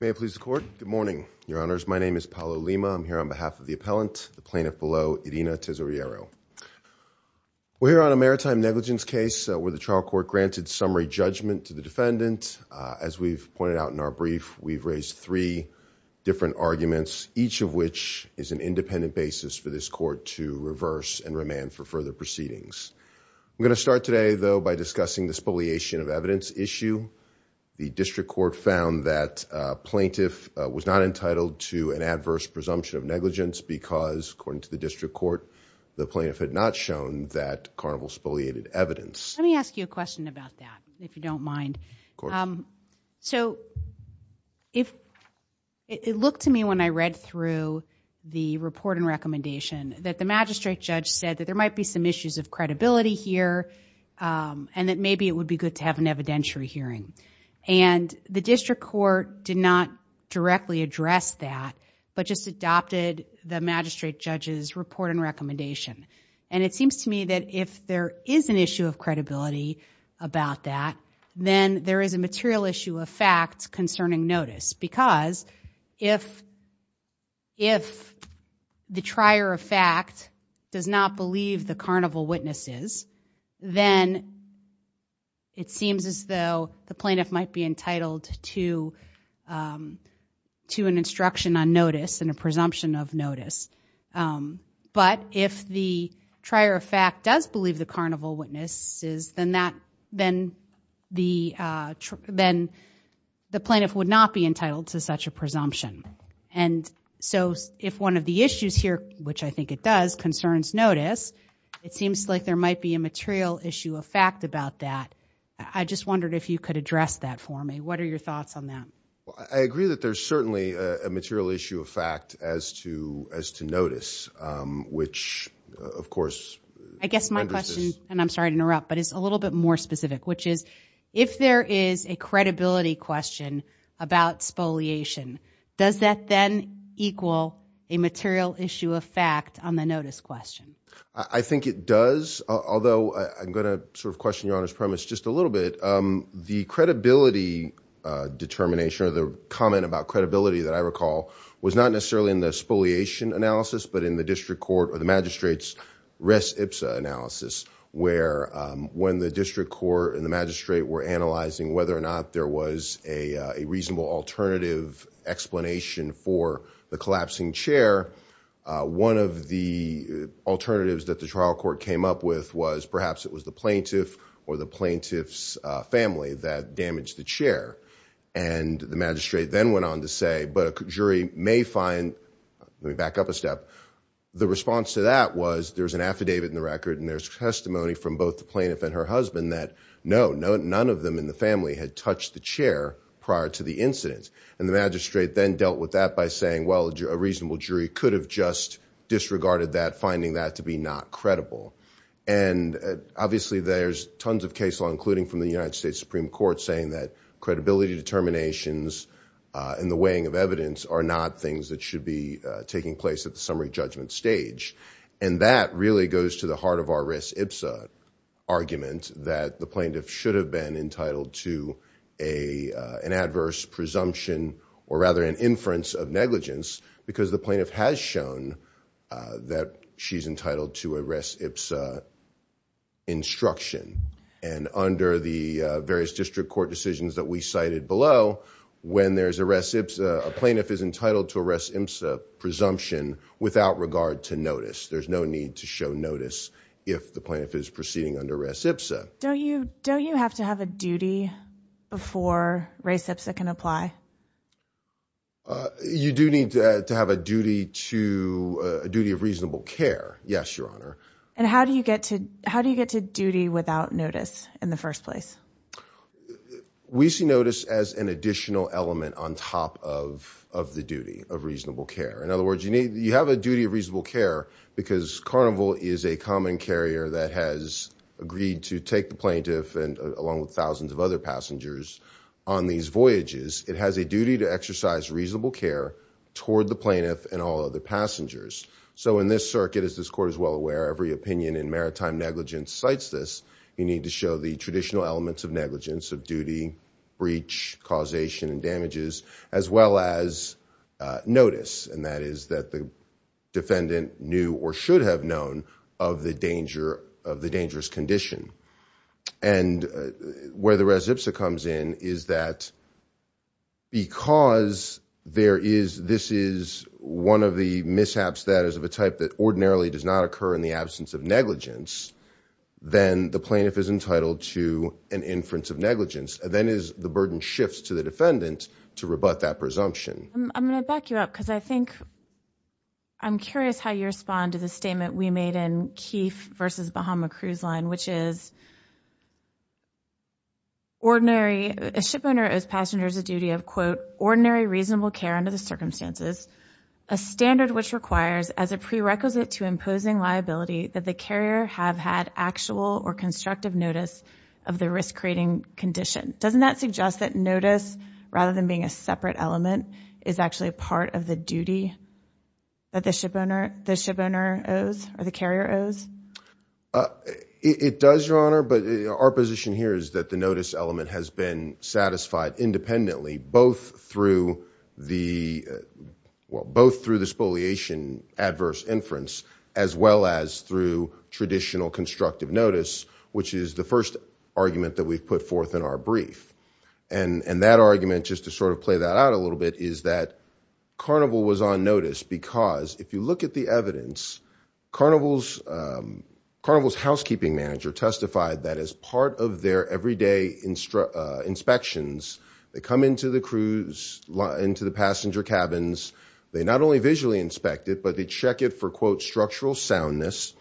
May it please the court. Good morning, your honors. My name is Paolo Lima. I'm here on behalf of the appellant, the plaintiff below, Irina Tesoriero. We're here on a maritime negligence case where the trial court granted summary judgment to the defendant. As we've pointed out in our brief, we've raised three different arguments, each of which is an independent basis for this court to reverse and remand for further proceedings. I'm going to start today, though, by discussing the spoliation of evidence issue. The district court found that plaintiff was not entitled to an adverse presumption of negligence because, according to the district court, the plaintiff had not shown that Carnival spoliated evidence. Let me ask you a question about that, if you don't mind. So, it looked to me when I read through the report and recommendation that the magistrate judge said that there might be some issues of credibility here and that maybe it would be good to have an evidentiary hearing. And the district court did not directly address that, but just adopted the magistrate judge's report and recommendation. And it seems to me that if there is an issue of credibility about that, then there is a material issue of fact concerning notice. Because if the trier of fact does not believe the Carnival witnesses, then it seems as though the plaintiff might be entitled to an instruction on notice and a presumption of notice. But if the trier of fact does believe the Carnival witnesses, then the plaintiff would not be entitled to concerns notice. It seems like there might be a material issue of fact about that. I just wondered if you could address that for me. What are your thoughts on that? I agree that there is certainly a material issue of fact as to notice, which of course I guess my question, and I'm sorry to interrupt, but it's a little bit more specific, which is if there is a credibility question about spoliation, does that then equal a material issue of fact on the notice question? I think it does, although I'm going to sort of question your Honor's premise just a little bit. The credibility determination or the comment about credibility that I recall was not necessarily in the spoliation analysis, but in the district court or the magistrate's res ipsa analysis, where when the district court and the magistrate were analyzing whether or not there was a reasonable alternative explanation for the collapsing chair, one of the alternatives that the trial court came up with was perhaps it was the plaintiff or the plaintiff's family that damaged the chair. And the magistrate then went on to say, but a jury may find, let me back up a step, the response to that was there's an affidavit in the record and there's testimony from both the plaintiff and her husband that no, none of them in the family had touched the chair prior to the incident. And the magistrate then dealt with that by saying, well, a reasonable jury could have just disregarded that, finding that to be not credible. And obviously there's tons of case law, including from the United States Supreme Court saying that credibility determinations and the weighing of evidence are not things that should be taking place at the summary judgment stage. And that really goes to the heart of our res ipsa argument that the plaintiff should have been entitled to an adverse presumption, or rather an inference of negligence, because the plaintiff has shown that she's entitled to a res ipsa instruction. And under the various district court decisions that we cited below, when there's a res ipsa, a plaintiff is entitled to a res ipsa presumption without regard to notice. There's no need to show notice if the plaintiff is proceeding under res ipsa. Don't you, don't you have to have a duty before res ipsa can apply? You do need to have a duty to a duty of reasonable care. Yes, your honor. And how do you get to, how do you get to duty without notice in the first place? We see notice as an additional element on top of, of the duty of reasonable care. In other words, you need, you have a duty of reasonable care because carnival is a common carrier that has agreed to take the plaintiff and along with thousands of other passengers on these voyages, it has a duty to exercise reasonable care toward the plaintiff and all other passengers. So in this circuit, as this court is well aware, every opinion in maritime negligence cites this, you need to show the traditional elements of negligence of duty, breach causation and damages as well as a notice. And that is that the defendant knew or should have known of the danger of the dangerous condition. And where the res ipsa comes in is that because there is, this is one of the mishaps that is of a type that ordinarily does not occur in the absence of an inference of negligence. Then the burden shifts to the defendant to rebut that presumption. I'm going to back you up because I think, I'm curious how you respond to the statement we made in Keefe versus Bahama Cruise Line, which is ordinary, a shipowner owes passengers a duty of quote, ordinary reasonable care under the circumstances, a standard which requires as a prerequisite to imposing liability that the carrier have had actual or constructive notice of the risk-creating condition. Doesn't that suggest that notice, rather than being a separate element, is actually a part of the duty that the shipowner owes or the carrier It does, Your Honor, but our position here is that the notice element has been satisfied independently, both through the spoliation adverse inference as well as through traditional constructive notice, which is the first argument that we've put forth in our brief. And that argument, just to sort of play that out a little bit, is that Carnival was on notice because if you look at the evidence, Carnival's housekeeping manager testified that as part of their everyday inspections, they come into the passenger cabins, they not only visually inspect it, but they check it for quote, structural soundness,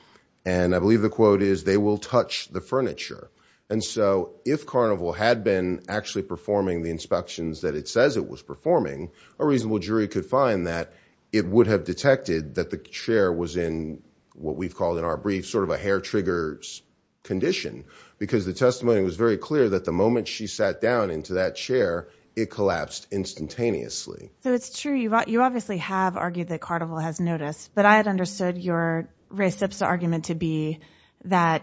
and I believe the quote is they will touch the furniture. And so if Carnival had been actually performing the inspections that it says it was performing, a reasonable jury could find that it would have detected that the chair was in what we've called in our brief sort of a hair triggers condition because the testimony was very clear that the moment she sat down into that chair, it collapsed instantaneously. So it's true. You obviously have argued that Carnival has notice, but I had understood your race ipsa argument to be that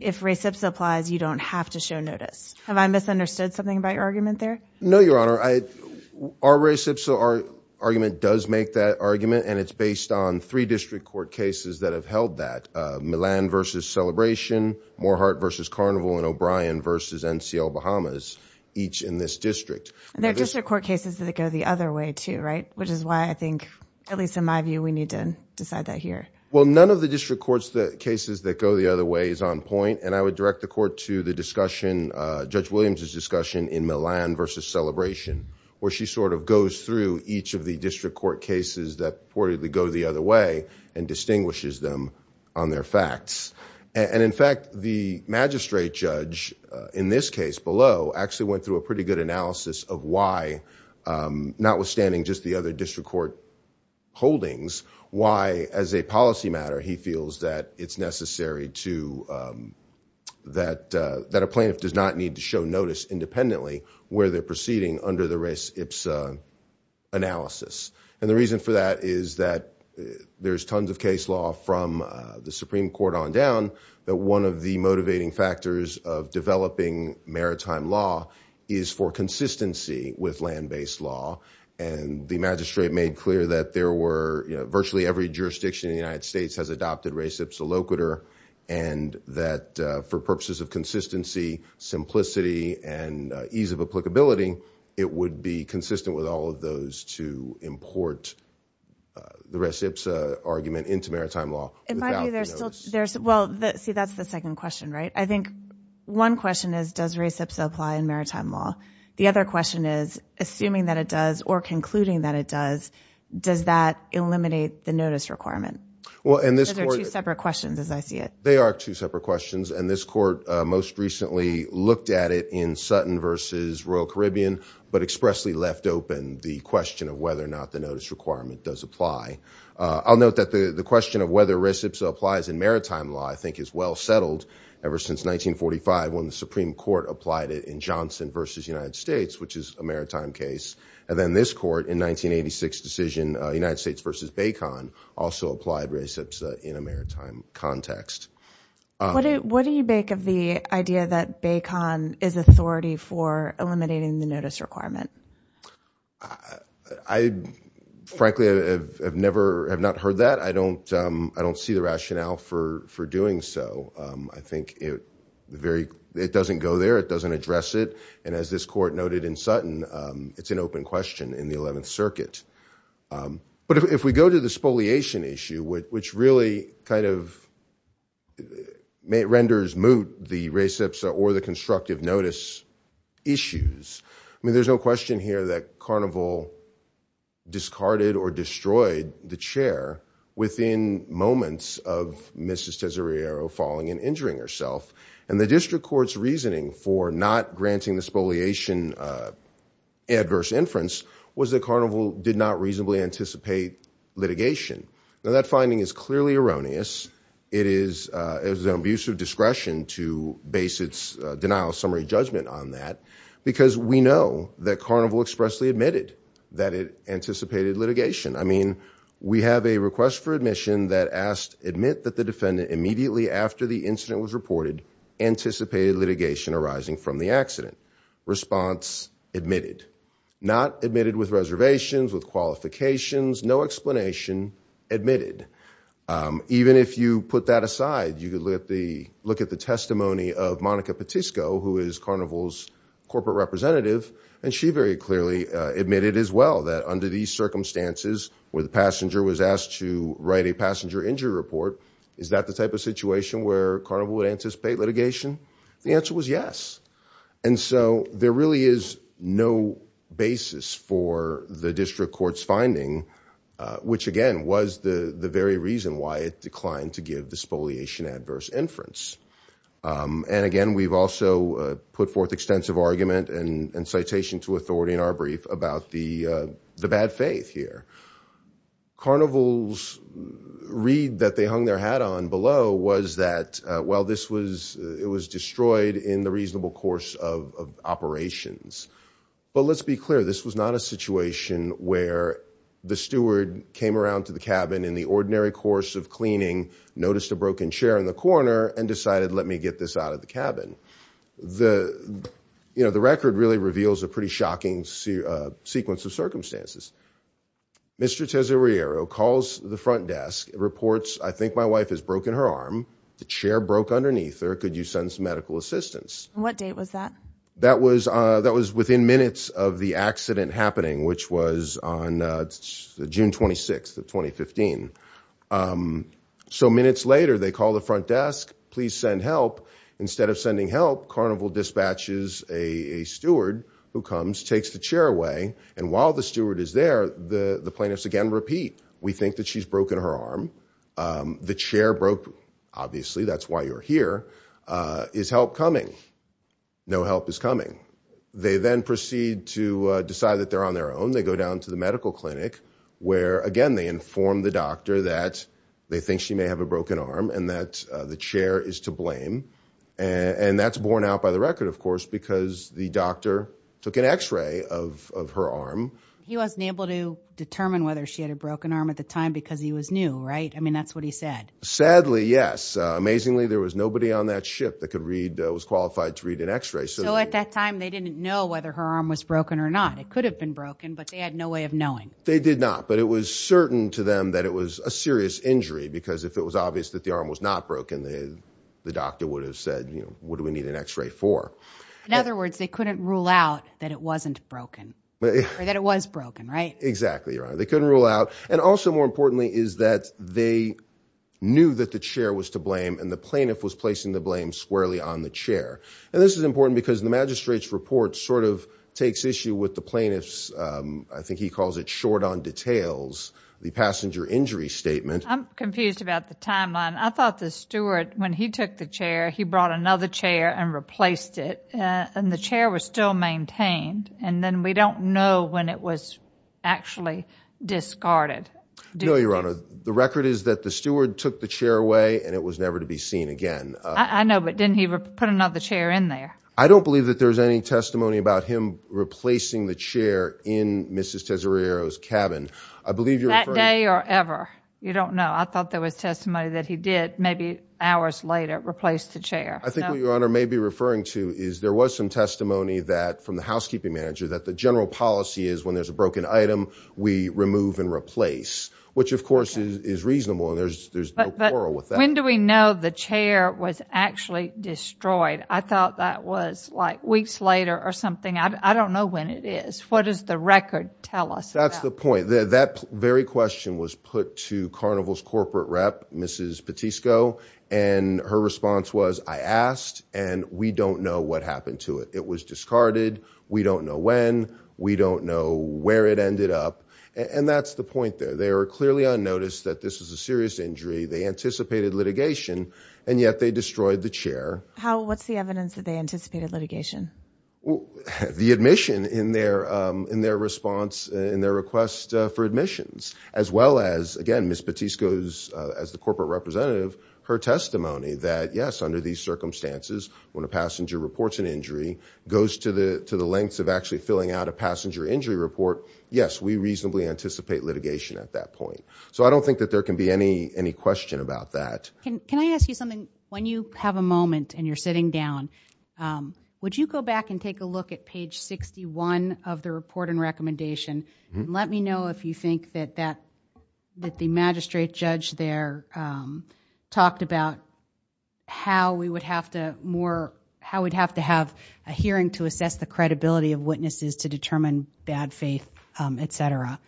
if race ipsa applies, you don't have to show notice. Have I misunderstood something about your argument there? No, Your Honor, our race ipsa argument does make that argument and it's based on three district court cases that have held that Milan versus Celebration, Morehart versus Carnival and O'Brien versus NCL Bahamas, each in this district. There are district court cases that go the other way too, right? Which is why I think, at least in my view, we need to decide that here. Well, none of the district courts, the cases that go the other way is on point and I would direct the court to the discussion, Judge Williams's discussion in Milan versus Celebration where she sort of goes through each of the district court cases that reportedly go the other way and distinguishes them on their facts. And in fact, the magistrate judge in this case below actually went through a pretty good analysis of why, notwithstanding just the other district court holdings, why as a policy matter, he feels that it's necessary to, that a plaintiff does not need to show notice independently where they're proceeding under the res ipsa analysis. And the reason for that is that there's tons of case law from the Supreme Court on down, but one of the motivating factors of developing maritime law is for consistency with land-based law. And the magistrate made clear that there were virtually every jurisdiction in the United States has adopted res ipsa loquitur and that for purposes of consistency, simplicity, and ease of applicability, it would be consistent with all of those to import the res ipsa argument into maritime law. And by the way, there's still, well, see that's the second question, right? I think one question is does res ipsa apply in maritime law? The other question is, assuming that it does or concluding that it does, does that eliminate the notice requirement? Well, and this court- Because they're two separate questions as I see it. They are two separate questions. And this court most recently looked at it in Sutton versus Royal Caribbean, but expressly left open the question of whether or not the notice requirement does apply. I'll note that the question of whether res ipsa applies in maritime law I think is well settled ever since 1945 when the Supreme Court applied it in Johnson versus United States, which is a maritime case. And then this court in 1986 decision United States versus BACON also applied res ipsa in a maritime context. What do you make of the idea that BACON is authority for eliminating the notice requirement? I frankly have never, have not heard that. I don't see the rationale for doing so. I think it doesn't go there. It doesn't address it. And as this court noted in Sutton, it's an open question in the 11th circuit. But if we go to the spoliation issue, which really kind of renders moot the res ipsa or the constructive notice issues, I mean, there's no question here that Carnival discarded or destroyed the chair within moments of Mrs. Tesoriero falling and injuring herself. And the district court's reasoning for not granting the spoliation adverse inference was that Carnival did not reasonably anticipate litigation. Now, that finding is clearly erroneous. It is an abuse of discretion to base its denial summary judgment on that because we know that Carnival expressly admitted that it anticipated litigation. I mean, we have a request for admission that asked admit that the defendant immediately after the incident was reported anticipated litigation arising from the accident. Response, admitted. Not admitted with reservations, with qualifications, no explanation, admitted. Even if you put that aside, you could look at the testimony of Monica Petisco, who is Carnival's corporate representative, and she very clearly admitted as well that under these circumstances where the passenger was asked to write a passenger injury report, is that the type of situation where Carnival would anticipate litigation? The answer was yes. And so there really is no basis for the district court's finding, which again was the very reason why it declined to give the spoliation adverse inference. And again, we've also put forth extensive argument and citation to authority in our brief about the bad faith here. Carnival's read that they hung their hat on below was that, well, this was it was destroyed in the reasonable course of operations. But let's be clear. This was not a situation where the steward came around to the cabin in the ordinary course of cleaning, noticed a broken chair in the corner and decided, let me get this out of the cabin. The, you know, the record really reveals a pretty shocking sequence of circumstances. Mr. Tesoriero calls the front desk, reports, I think my wife has broken her arm. The chair broke underneath her. Could you send some medical assistance? What date was that? That was that was within minutes of the accident happening, which was on June 26th of 2015. So minutes later, they call the front desk. Please send help. Instead of sending help, Carnival dispatches a steward who comes, takes the chair away. And while the steward is there, the plaintiffs again repeat, we think that she's broken her arm. The chair broke. Obviously, that's why you're here. Is help coming? No help is coming. They then proceed to decide that they're on their own. They go down to the medical clinic where, again, they inform the doctor that they think she may have a broken arm and that the chair is to blame. And that's borne out by the record, of course, because the doctor took an X-ray of her arm. He wasn't able to determine whether she had a broken arm at the time because he was new, right? I mean, that's what he said. Sadly, yes. Amazingly, there was nobody on that ship that could read, was qualified to read an X-ray. So at that time, they didn't know whether her arm was broken or not. It could have been broken, but they had no way of knowing. They did not. But it was certain to them that it was a serious injury, because if it was obvious that the arm was not broken, the doctor would have said, what do we need an X-ray for? In other words, they couldn't rule out that it wasn't broken or that it was broken, right? Exactly. They couldn't rule out. And also, more importantly, is that they knew that the chair was to blame and the plaintiff was placing the blame squarely on the chair. And this is important because the magistrate's report sort of takes issue with the plaintiff's, I think he calls it short on details, the passenger injury statement. I'm confused about the timeline. I thought the steward, when he took the chair, he brought another chair and replaced it. And the chair was still maintained. And then we don't know when it was actually discarded. No, Your Honor. The record is that the steward took the chair away and it was never to be seen again. I know, but didn't he put another chair in there? I don't believe that there's any testimony about him replacing the chair in Mrs. Tesariero's cabin. I believe you're referring- That day or ever. You don't know. I thought there was testimony that he did, hours later, replace the chair. I think what Your Honor may be referring to is there was some testimony that, from the housekeeping manager, that the general policy is when there's a broken item, we remove and replace, which of course is reasonable and there's no quarrel with that. But when do we know the chair was actually destroyed? I thought that was like weeks later or something. I don't know when it is. What does the record tell us? That's the point. That very question was put to Carnival's corporate rep, Mrs. Petisco, and her response was, I asked and we don't know what happened to it. It was discarded. We don't know when. We don't know where it ended up. And that's the point there. They were clearly unnoticed that this is a serious injury. They anticipated litigation, and yet they destroyed the chair. What's the evidence that they anticipated litigation? Well, the admission in their response, in their request for admissions, as well as, again, Mrs. Petisco's, as the corporate representative, her testimony that yes, under these circumstances, when a passenger reports an injury, goes to the lengths of actually filling out a passenger injury report, yes, we reasonably anticipate litigation at that point. So I don't think that there can be any question about that. Can I ask you something? When you have a moment and you're sitting down, would you go back and take a look at page 61 of the report and recommendation? Let me know if you think that the magistrate judge there talked about how we would have to more, how we'd have to have a hearing to assess the credibility of witnesses to determine bad faith, et cetera,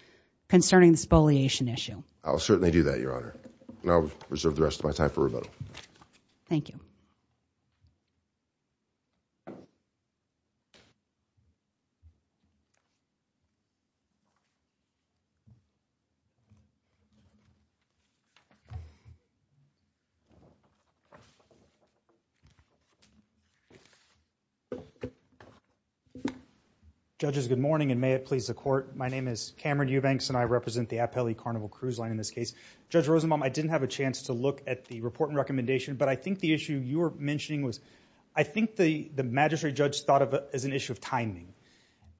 concerning the spoliation issue. I'll certainly do that, Your Honor. And I'll reserve the rest of my time for rebuttal. Thank you. Judges, good morning, and may it please the Court. My name is Cameron Eubanks, and I represent the Appellee Carnival Cruise Line in this case. Judge Rosenbaum, I didn't have a chance to look at the report and recommendation, but I think the issue you were mentioning was, I think the magistrate judge thought of it as an issue of timing.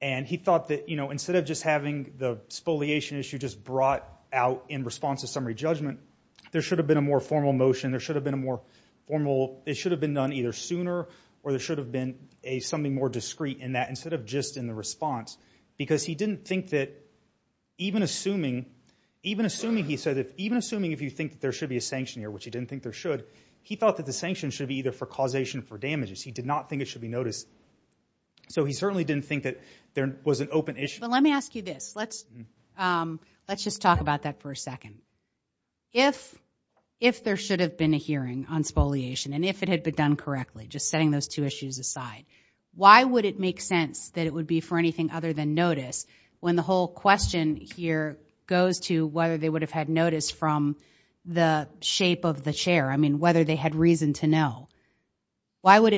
And he thought that, you know, instead of just having the spoliation issue just brought out in response to summary judgment, there should have been a more formal motion, there should have been a more formal, it should have been done either sooner, or there should have been something more discreet in that, instead of just in the response. Because he didn't think that, even assuming he said that, even assuming if you think there should be a sanction here, which he didn't think there should, he thought that the sanction should be either for causation or for damages. He did not think it should be noticed. So he certainly didn't think that there was an open issue. But let me ask you this. Let's just talk about that for a second. If there should have been a hearing on spoliation, and if it had been done correctly, just setting those two issues aside, why would it make sense that it would be for anything other than notice, when the whole question here goes to whether they would have had notice from the shape of the chair? I mean, whether they had reason to know. Why would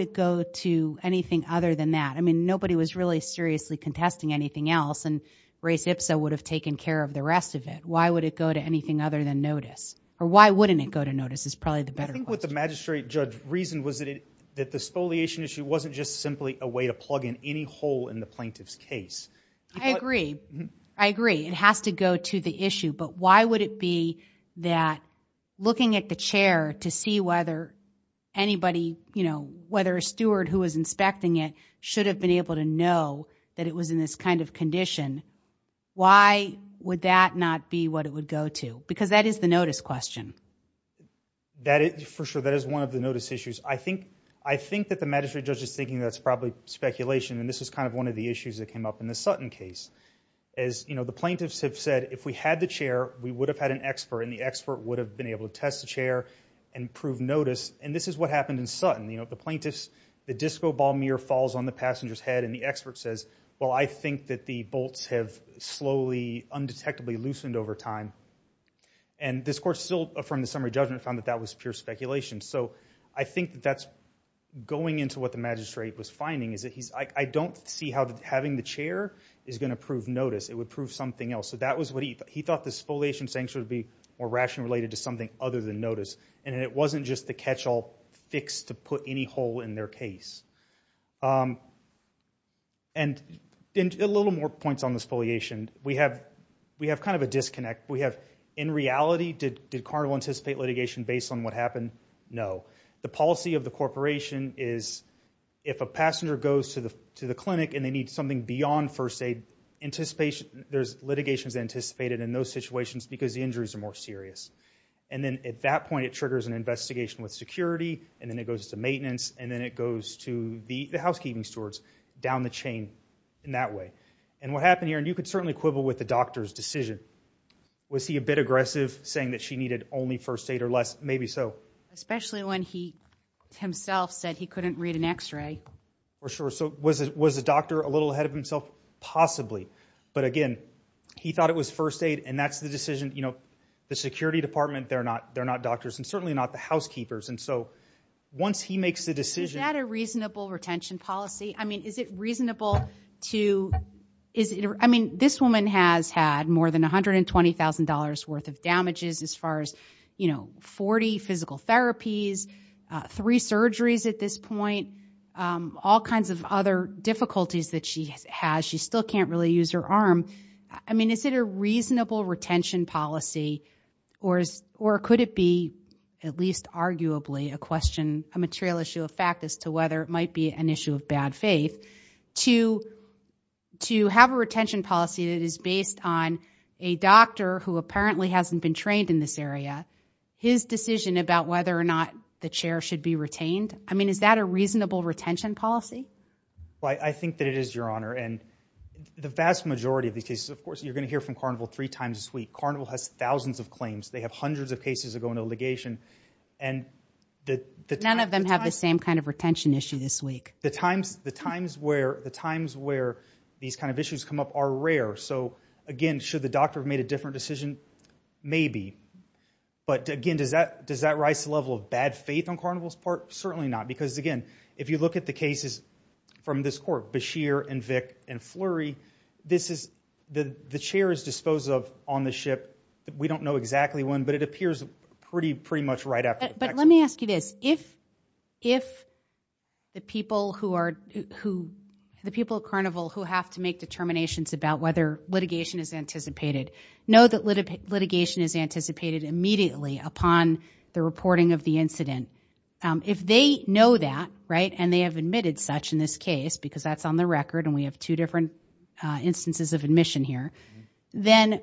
it go to anything other than that? I mean, nobody was really seriously contesting anything else, and Race Ipsa would have taken care of the rest of it. Why would it go to anything other than notice? Or why wouldn't it go to notice is probably the better question. I think what the magistrate judge reasoned was that the spoliation issue wasn't just simply a to plug in any hole in the plaintiff's case. I agree. I agree. It has to go to the issue. But why would it be that looking at the chair to see whether anybody, whether a steward who was inspecting it should have been able to know that it was in this kind of condition, why would that not be what it would go to? Because that is the notice question. For sure. That is one of the notice issues. I think that the magistrate judge is thinking that's probably speculation, and this is kind of one of the issues that came up in the Sutton case. As the plaintiffs have said, if we had the chair, we would have had an expert, and the expert would have been able to test the chair and prove notice. And this is what happened in Sutton. The plaintiffs, the disco ball mirror falls on the passenger's head, and the expert says, well, I think that the bolts have slowly, undetectably loosened over time. And this court still, from the summary judgment, found that that was pure speculation. So I think that's going into what the magistrate was finding, is that he's, I don't see how having the chair is going to prove notice. It would prove something else. So that was what he thought, he thought this foliation sanction would be more rationally related to something other than notice, and it wasn't just the catch-all fix to put any hole in their case. And a little more points on this foliation. We have kind of a disconnect. We have, in reality, did Carnival anticipate litigation based on what happened? No. The policy of the corporation is, if a passenger goes to the clinic and they need something beyond first aid, there's litigations anticipated in those situations because the injuries are more serious. And then at that point, it triggers an investigation with security, and then it goes to maintenance, and then it goes to the housekeeping stewards down the chain in that way. And what happened here, and you could certainly quibble with the doctor's decision, was he a bit aggressive, saying that she needed only first aid or less? Maybe so. Especially when he himself said he couldn't read an x-ray. For sure. So was the doctor a little ahead of himself? Possibly. But again, he thought it was first aid, and that's the decision. You know, the security department, they're not doctors, and certainly not the housekeepers. And so once he makes the decision... Is that a reasonable retention policy? I mean, is it reasonable to... I mean, this woman has had more than $120,000 worth of damages as far as, you know, 40 physical therapies, three surgeries at this point, all kinds of other difficulties that she has. She still can't really use her arm. I mean, is it a reasonable retention policy? Or could it be, at least arguably, a question, a material issue of fact as to whether it might be an issue of bad faith? To have a retention policy that is based on a doctor who apparently hasn't been trained in this area, his decision about whether or not the chair should be retained? I mean, is that a reasonable retention policy? Well, I think that it is, Your Honor. And the vast majority of these cases, of course, you're going to hear from Carnival three times this week. Carnival has thousands of claims. They have hundreds of cases that go into litigation. And the... None of them have the same kind of times where these kind of issues come up are rare. So again, should the doctor have made a different decision? Maybe. But again, does that rise to the level of bad faith on Carnival's part? Certainly not. Because again, if you look at the cases from this court, Bashir and Vick and Flurry, this is... The chair is disposed of on the ship. We don't know exactly when, but it appears pretty much right after the fact. But let me ask you this. If the people at Carnival who have to make determinations about whether litigation is anticipated know that litigation is anticipated immediately upon the reporting of the incident, if they know that, right, and they have admitted such in this case, because that's on the record and we have two different instances of admission here, then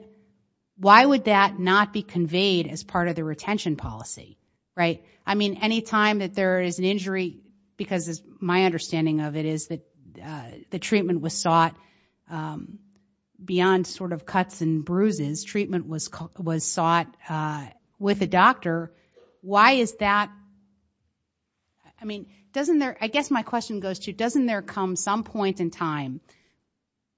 why would that not be conveyed as part of the retention policy, right? I mean, any time that there is an injury, because my understanding of it is that the treatment was sought beyond sort of cuts and bruises, treatment was sought with a doctor, why is that... I mean, doesn't there... I guess my question goes to, doesn't there come some point in time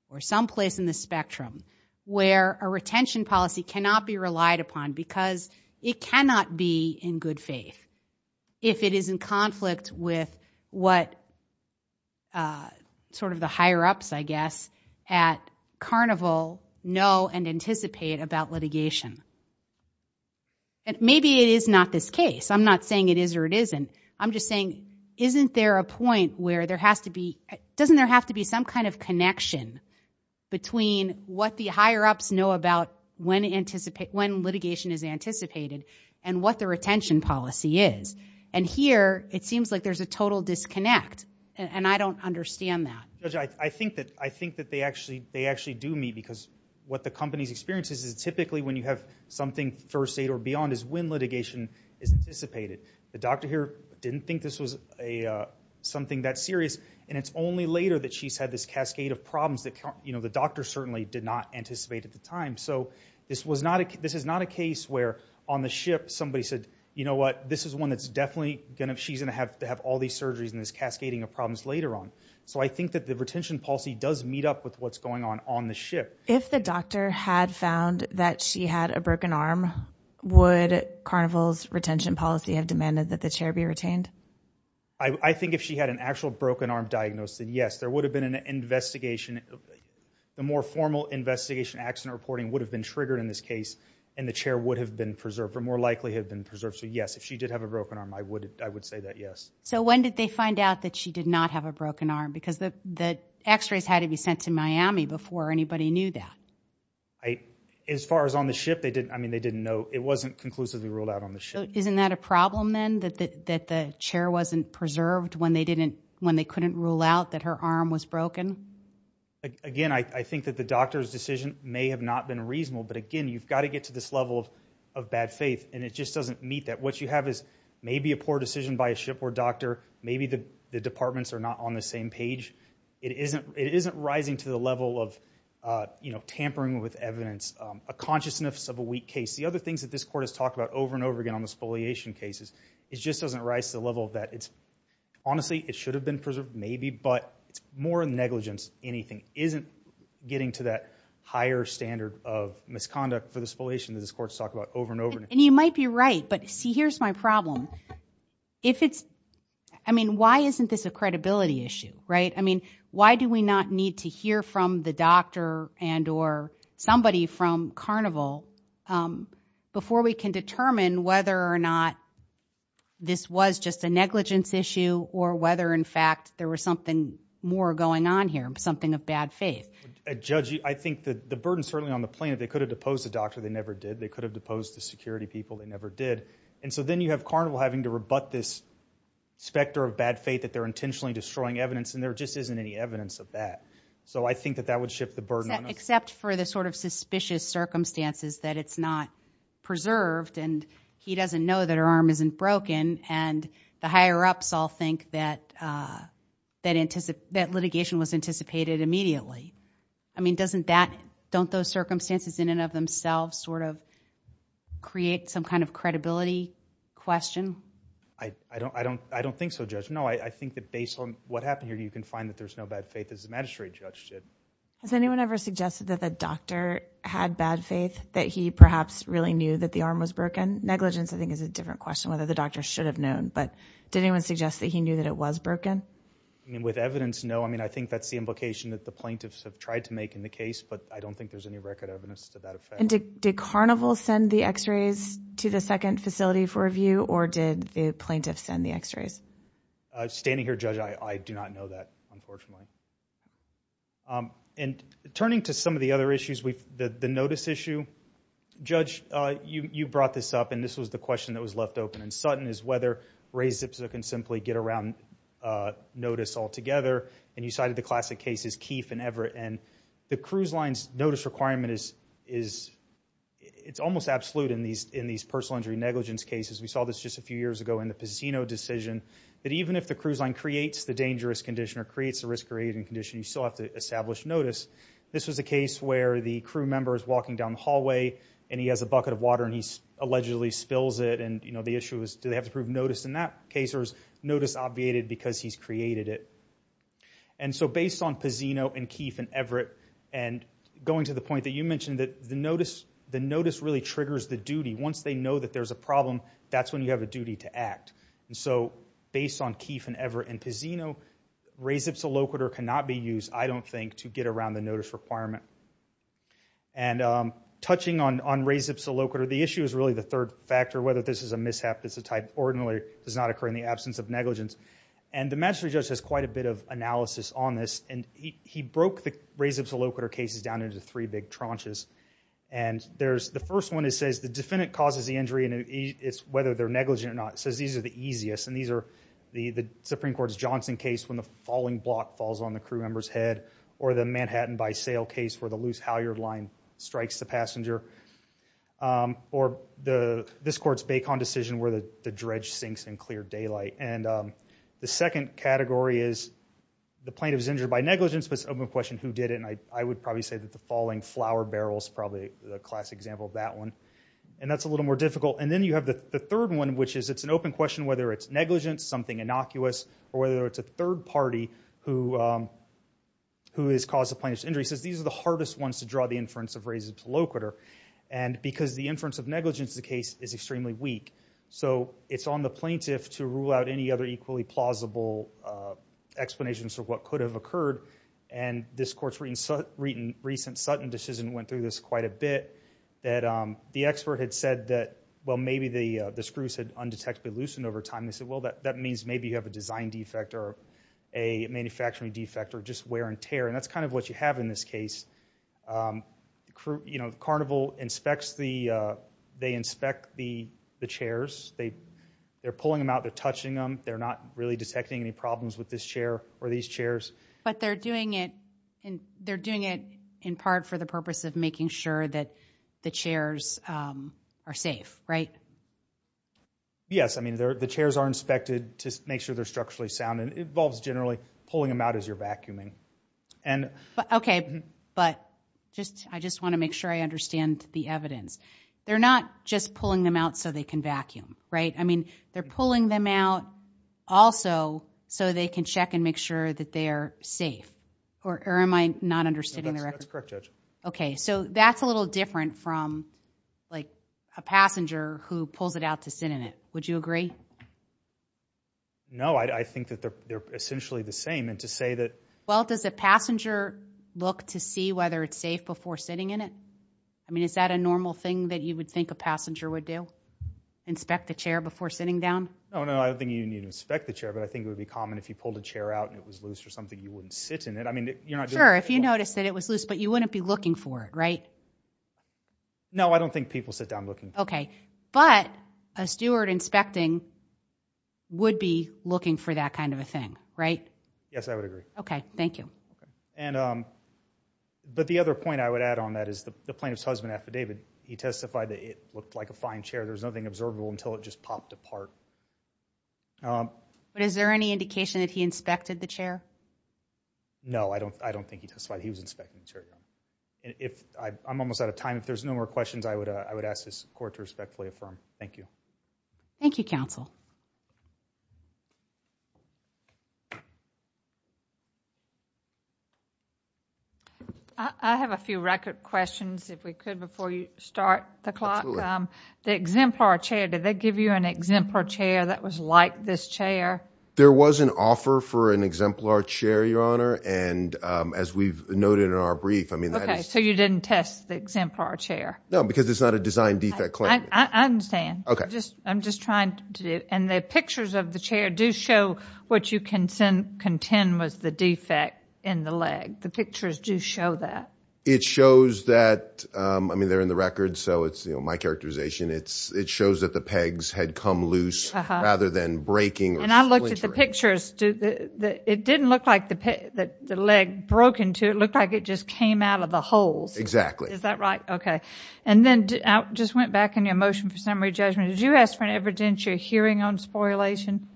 or someplace in the spectrum where a retention policy cannot be relied upon because it cannot be in good faith if it is in conflict with what sort of the higher-ups, I guess, at Carnival know and anticipate about litigation? And maybe it is not this case. I'm not saying it is or it isn't. I'm just saying, isn't there a point where there has to be... Doesn't there have to be some kind of connection between what the higher-ups know about when litigation is anticipated and what the retention policy is? And here, it seems like there's a total disconnect, and I don't understand that. Judge, I think that they actually do me, because what the company's experience is, is typically when you have something first aid or beyond is when litigation is anticipated. The doctor here didn't think this was something that serious, and it's only later that she's had this cascade of problems that the doctor certainly did not anticipate at the time. So this is not a case where on the ship somebody said, you know what, this is one that's definitely going to... She's going to have to have all these surgeries and this cascading of problems later on. So I think that the retention policy does meet up with what's going on on the ship. If the doctor had found that she had a broken arm, would Carnival's retention policy have demanded that the chair be retained? I think if she had an actual broken arm diagnosed, then yes. There would have been an investigation. The more formal investigation, accident reporting would have been triggered in this case, and the chair would have been preserved, or more likely have been preserved. So yes, if she did have a broken arm, I would say that yes. So when did they find out that she did not have a broken arm? Because the x-rays had to be sent to Miami before anybody knew that. As far as on the ship, they didn't know. It wasn't conclusively ruled out on the ship. So isn't that a problem then, that the chair wasn't preserved when they couldn't rule out that her arm was broken? Again, I think that the doctor's decision may have not been reasonable. But again, you've got to get to this level of bad faith, and it just doesn't meet that. What you have is maybe a poor decision by a shipboard doctor. Maybe the departments are not on the same page. It isn't rising to the level of tampering with evidence, a consciousness of a case. The other things that this court has talked about over and over again on the spoliation cases, it just doesn't rise to the level of that. Honestly, it should have been preserved, maybe, but it's more negligence. Anything isn't getting to that higher standard of misconduct for the spoliation that this court's talked about over and over. And you might be right, but see, here's my problem. If it's, I mean, why isn't this a credibility issue, right? I mean, why do we not need to hear from the doctor and or somebody from Carnival before we can determine whether or not this was just a negligence issue or whether, in fact, there was something more going on here, something of bad faith? Judge, I think that the burden's certainly on the plaintiff. They could have deposed the doctor. They never did. They could have deposed the security people. They never did. And so then you have Carnival having to rebut this specter of bad faith that they're intentionally destroying evidence and there just isn't any evidence of that. So I think that that would shift the burden on us. Except for the sort of suspicious circumstances that it's not preserved and he doesn't know that her arm isn't broken and the higher-ups all think that litigation was anticipated immediately. I mean, don't those circumstances in and of themselves sort of create some kind of credibility question? I don't think so, Judge. No, I think that based on what happened here, you can find that there's no bad faith, as the magistrate judge did. Has anyone ever suggested that the doctor had bad faith, that he perhaps really knew that the arm was broken? Negligence, I think, is a different question, whether the doctor should have known. But did anyone suggest that he knew that it was broken? I mean, with evidence, no. I mean, I think that's the implication that the plaintiffs have tried to make in the case, but I don't think there's any record evidence to that effect. And did Carnival send the x-rays to the second facility for review or did the plaintiffs send the x-rays? Standing here, Judge, I do not know that, unfortunately. And turning to some of the other issues, the notice issue, Judge, you brought this up and this was the question that was left open. And Sutton is whether Ray Zipzer can simply get around notice altogether. And you cited the classic cases, Keefe and Everett. And the cruise line's notice requirement is, it's almost absolute in these personal injury negligence cases. We saw this just a few years ago in the Pizzino decision, that even if the cruise line creates the dangerous condition or creates the risk-creating condition, you still have to establish notice. This was a case where the crew member is walking down the hallway and he has a bucket of water and he allegedly spills it. And the issue is, do they have to prove notice in that case or is notice obviated because he's created it? And so based on Pizzino and Keefe and Everett, and going to the point that you mentioned, that the notice really triggers the duty. Once they know that there's a problem, that's when you have a duty to act. And so based on Keefe and Everett and Pizzino, Ray Zipzer Locator cannot be used, I don't think, to get around the notice requirement. And touching on Ray Zipzer Locator, the issue is really the third factor, whether this is a mishap, it's a type ordinary, does not occur in the absence of negligence. And the magistrate judge has quite a bit of analysis on this and he broke the Ray Zipzer Locator cases down into three big tranches. And there's the first one that says the defendant causes the injury and it's whether they're negligent or not. It says these are the easiest and these are the Supreme Court's Johnson case when the falling block falls on the crew member's head, or the Manhattan by Sail case where the loose halyard line strikes the passenger, or this court's Bacon decision where the dredge sinks in clear daylight. And the second category is the plaintiff is injured by negligence, but it's an open question who did it. And I would probably say that the falling flower barrel is probably the classic example of that one. And that's a little more difficult. And then you have the third one, which is it's an open question whether it's negligence, something innocuous, or whether it's a third party who has caused the plaintiff's injury. It says these are the hardest ones to draw the inference of Ray Zipzer Locator. And because the inference of negligence in the case is extremely weak. So it's on the plaintiff to rule out any other equally plausible explanations for what could have occurred. And this court's recent Sutton decision went through this quite a bit, that the expert had said that, well, maybe the screws had undetectably loosened over time. They said, well, that means maybe you have a design defect or a manufacturing defect or just wear and tear. And that's kind of what you have in this case. Carnival inspects the chairs. They're pulling them out. They're touching them. They're not really detecting any problems with this chair or these chairs. But they're doing it in part for the purpose of making sure that the chairs are safe, right? Yes. I mean, the chairs are inspected to make sure they're safe. Okay. But I just want to make sure I understand the evidence. They're not just pulling them out so they can vacuum, right? I mean, they're pulling them out also so they can check and make sure that they're safe. Or am I not understanding the record? That's correct, Judge. Okay. So that's a little different from a passenger who pulls it out to sit in it. Would you agree? No. I think that they're essentially the same. And to say that... Well, does a passenger look to see whether it's safe before sitting in it? I mean, is that a normal thing that you would think a passenger would do? Inspect the chair before sitting down? No, no. I don't think you need to inspect the chair. But I think it would be common if you pulled a chair out and it was loose or something, you wouldn't sit in it. I mean, you're not doing it to people. Sure. If you noticed that it was loose, but you wouldn't be looking for it, right? No, I don't think people sit down looking. Okay. But a steward inspecting would be looking for that kind of a thing, right? Yes, I would agree. Okay. Thank you. But the other point I would add on that is the plaintiff's husband affidavit, he testified that it looked like a fine chair. There was nothing observable until it just popped apart. But is there any indication that he inspected the chair? No, I don't think he testified he was inspecting the chair. I'm almost out of time. If there's no more questions, I would ask this court to respectfully affirm. Thank you. Thank you, counsel. I have a few record questions if we could before you start the clock. The exemplar chair, did they give you an exemplar chair that was like this chair? There was an offer for an exemplar chair, and as we've noted in our brief, I mean... Okay, so you didn't test the exemplar chair. No, because it's not a design defect claim. I understand. I'm just trying to do... And the pictures of the chair do show what you can contend was the defect in the leg. The pictures do show that. It shows that... I mean, they're in the record, so it's my characterization. It shows that the pegs had come loose rather than breaking or splintering. And I looked at the pictures. It didn't look like the leg broke into it. It looked like it just came out of the holes. Exactly. Is that right? Okay. And then I just went back in your motion for summary judgment. Did you ask for an evidence you're hearing on spoliation?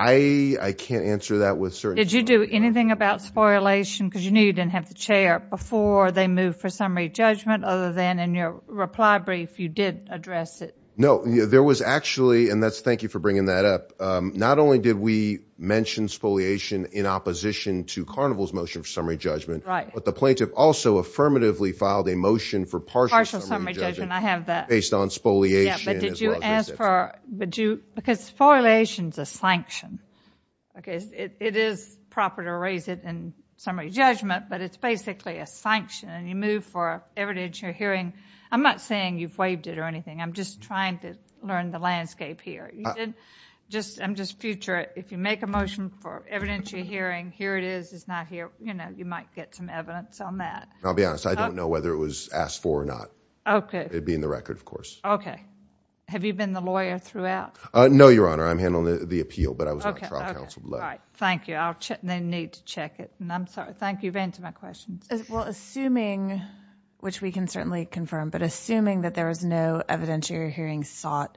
I can't answer that with certainty. Did you do anything about spoliation? Because you knew you didn't have the chair before they moved for summary judgment other than in your reply brief, you did address it. No. There was actually... And thank you for bringing that up. Not only did we mention spoliation in opposition to Carnival's motion for summary judgment, but the plaintiff also affirmatively filed a motion for partial summary judgment based on spoliation as well as exemption. Because spoliation is a sanction. It is proper to raise it in summary judgment, but it's basically a sanction. And you move for evidence you're hearing. I'm not saying you've waived it or learned the landscape here. I'm just future. If you make a motion for evidence you're hearing, here it is, it's not here, you might get some evidence on that. I'll be honest. I don't know whether it was asked for or not. It'd be in the record, of course. Okay. Have you been the lawyer throughout? No, Your Honor. I'm handling the appeal, but I was on trial counsel. All right. Thank you. I'll check. They need to check it. And I'm sorry. Thank you for answering my questions. Well, assuming, which we can certainly confirm, but assuming that there was no evidentiary hearing sought,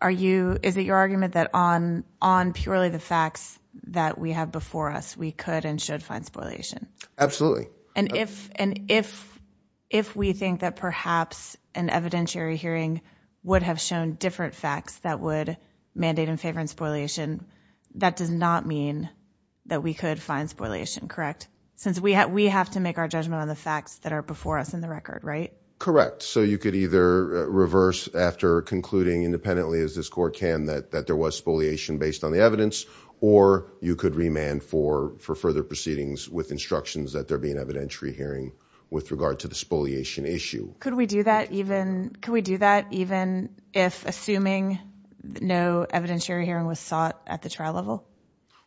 is it your argument that on purely the facts that we have before us, we could and should find spoliation? Absolutely. And if we think that perhaps an evidentiary hearing would have shown different facts that would mandate in favor and spoliation, that does not mean that we could find spoliation, correct? Since we have to make our judgment on the facts that are before us in the record, right? Correct. So you could either reverse after concluding independently, as this court can, that there was spoliation based on the evidence, or you could remand for further proceedings with instructions that there be an evidentiary hearing with regard to the spoliation issue. Could we do that even if assuming no evidentiary hearing was sought at the trial level?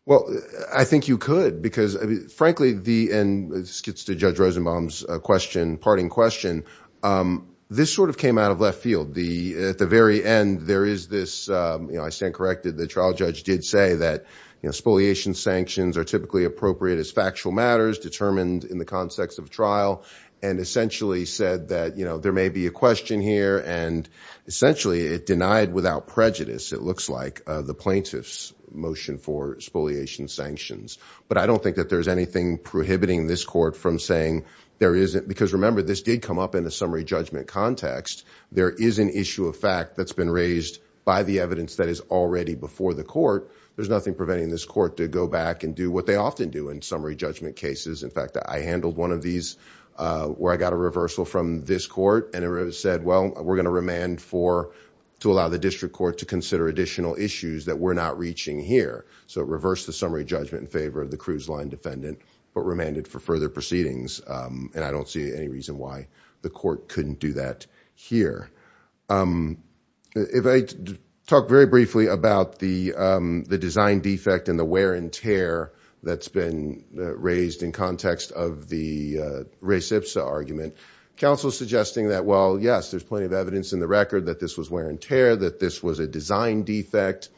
Well, I think you could because, frankly, and this gets to Judge Rosenbaum's question, parting question, this sort of came out of left field. At the very end, there is this, I stand corrected, the trial judge did say that spoliation sanctions are typically appropriate as factual matters determined in the context of trial, and essentially said that there may be a question here, and essentially it denied without prejudice, it looks like, the plaintiff's motion for spoliation sanctions. But I don't think that there's anything prohibiting this court from saying there isn't, because remember, this did come up in a summary judgment context. There is an issue of fact that's been raised by the evidence that is already before the court. There's nothing preventing this court to go back and do what they often do in summary judgment cases. In fact, I handled one of these where I got a reversal from this court, and it said, well, we're going to remand for, to allow the district court to consider additional issues that we're not reaching here. So it reversed the summary judgment in favor of the cruise line defendant, but remanded for further proceedings. And I don't see any reason why the court couldn't do that here. If I talk very briefly about the design defect and the wear and tear that's been raised in context of the race IPSA argument, counsel is suggesting that, well, yes, there's plenty of evidence in the record that this was wear and tear, that this was a design defect.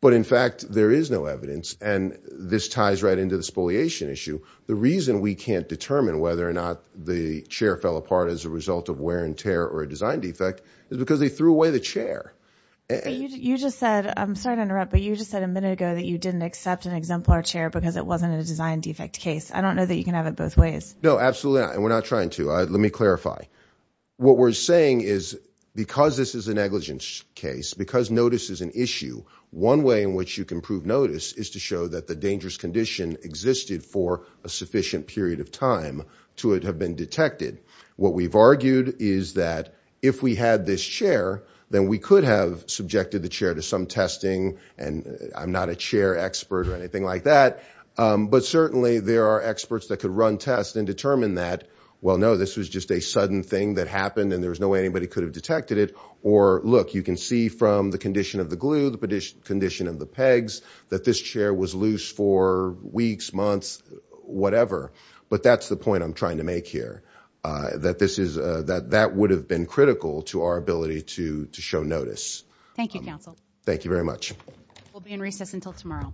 But in fact, there is no evidence. And this ties right into the spoliation issue. The reason we can't determine whether or not the chair fell apart as a result of wear and tear or a design defect is because they threw away the chair. You just said, I'm sorry to interrupt, but you just said a minute ago that you didn't accept an exemplar chair because it wasn't a design defect case. I don't know that you can have it both ways. No, absolutely not. And we're not trying to, let me clarify. What we're saying is because this is a negligence case, because notice is an issue, one way in which you can prove notice is to show that the dangerous condition existed for a sufficient period of time to it have been detected. What we've argued is that if we had this chair, then we could have subjected the chair to some testing and I'm not a chair expert or anything like that. But certainly there are experts that could run tests and determine that, well, no, this was just a sudden thing that happened and there was no way anybody could have of the glue, the condition of the pegs, that this chair was loose for weeks, months, whatever. But that's the point I'm trying to make here, that this is, that that would have been critical to our ability to show notice. Thank you, counsel. Thank you very much. We'll be in recess until tomorrow.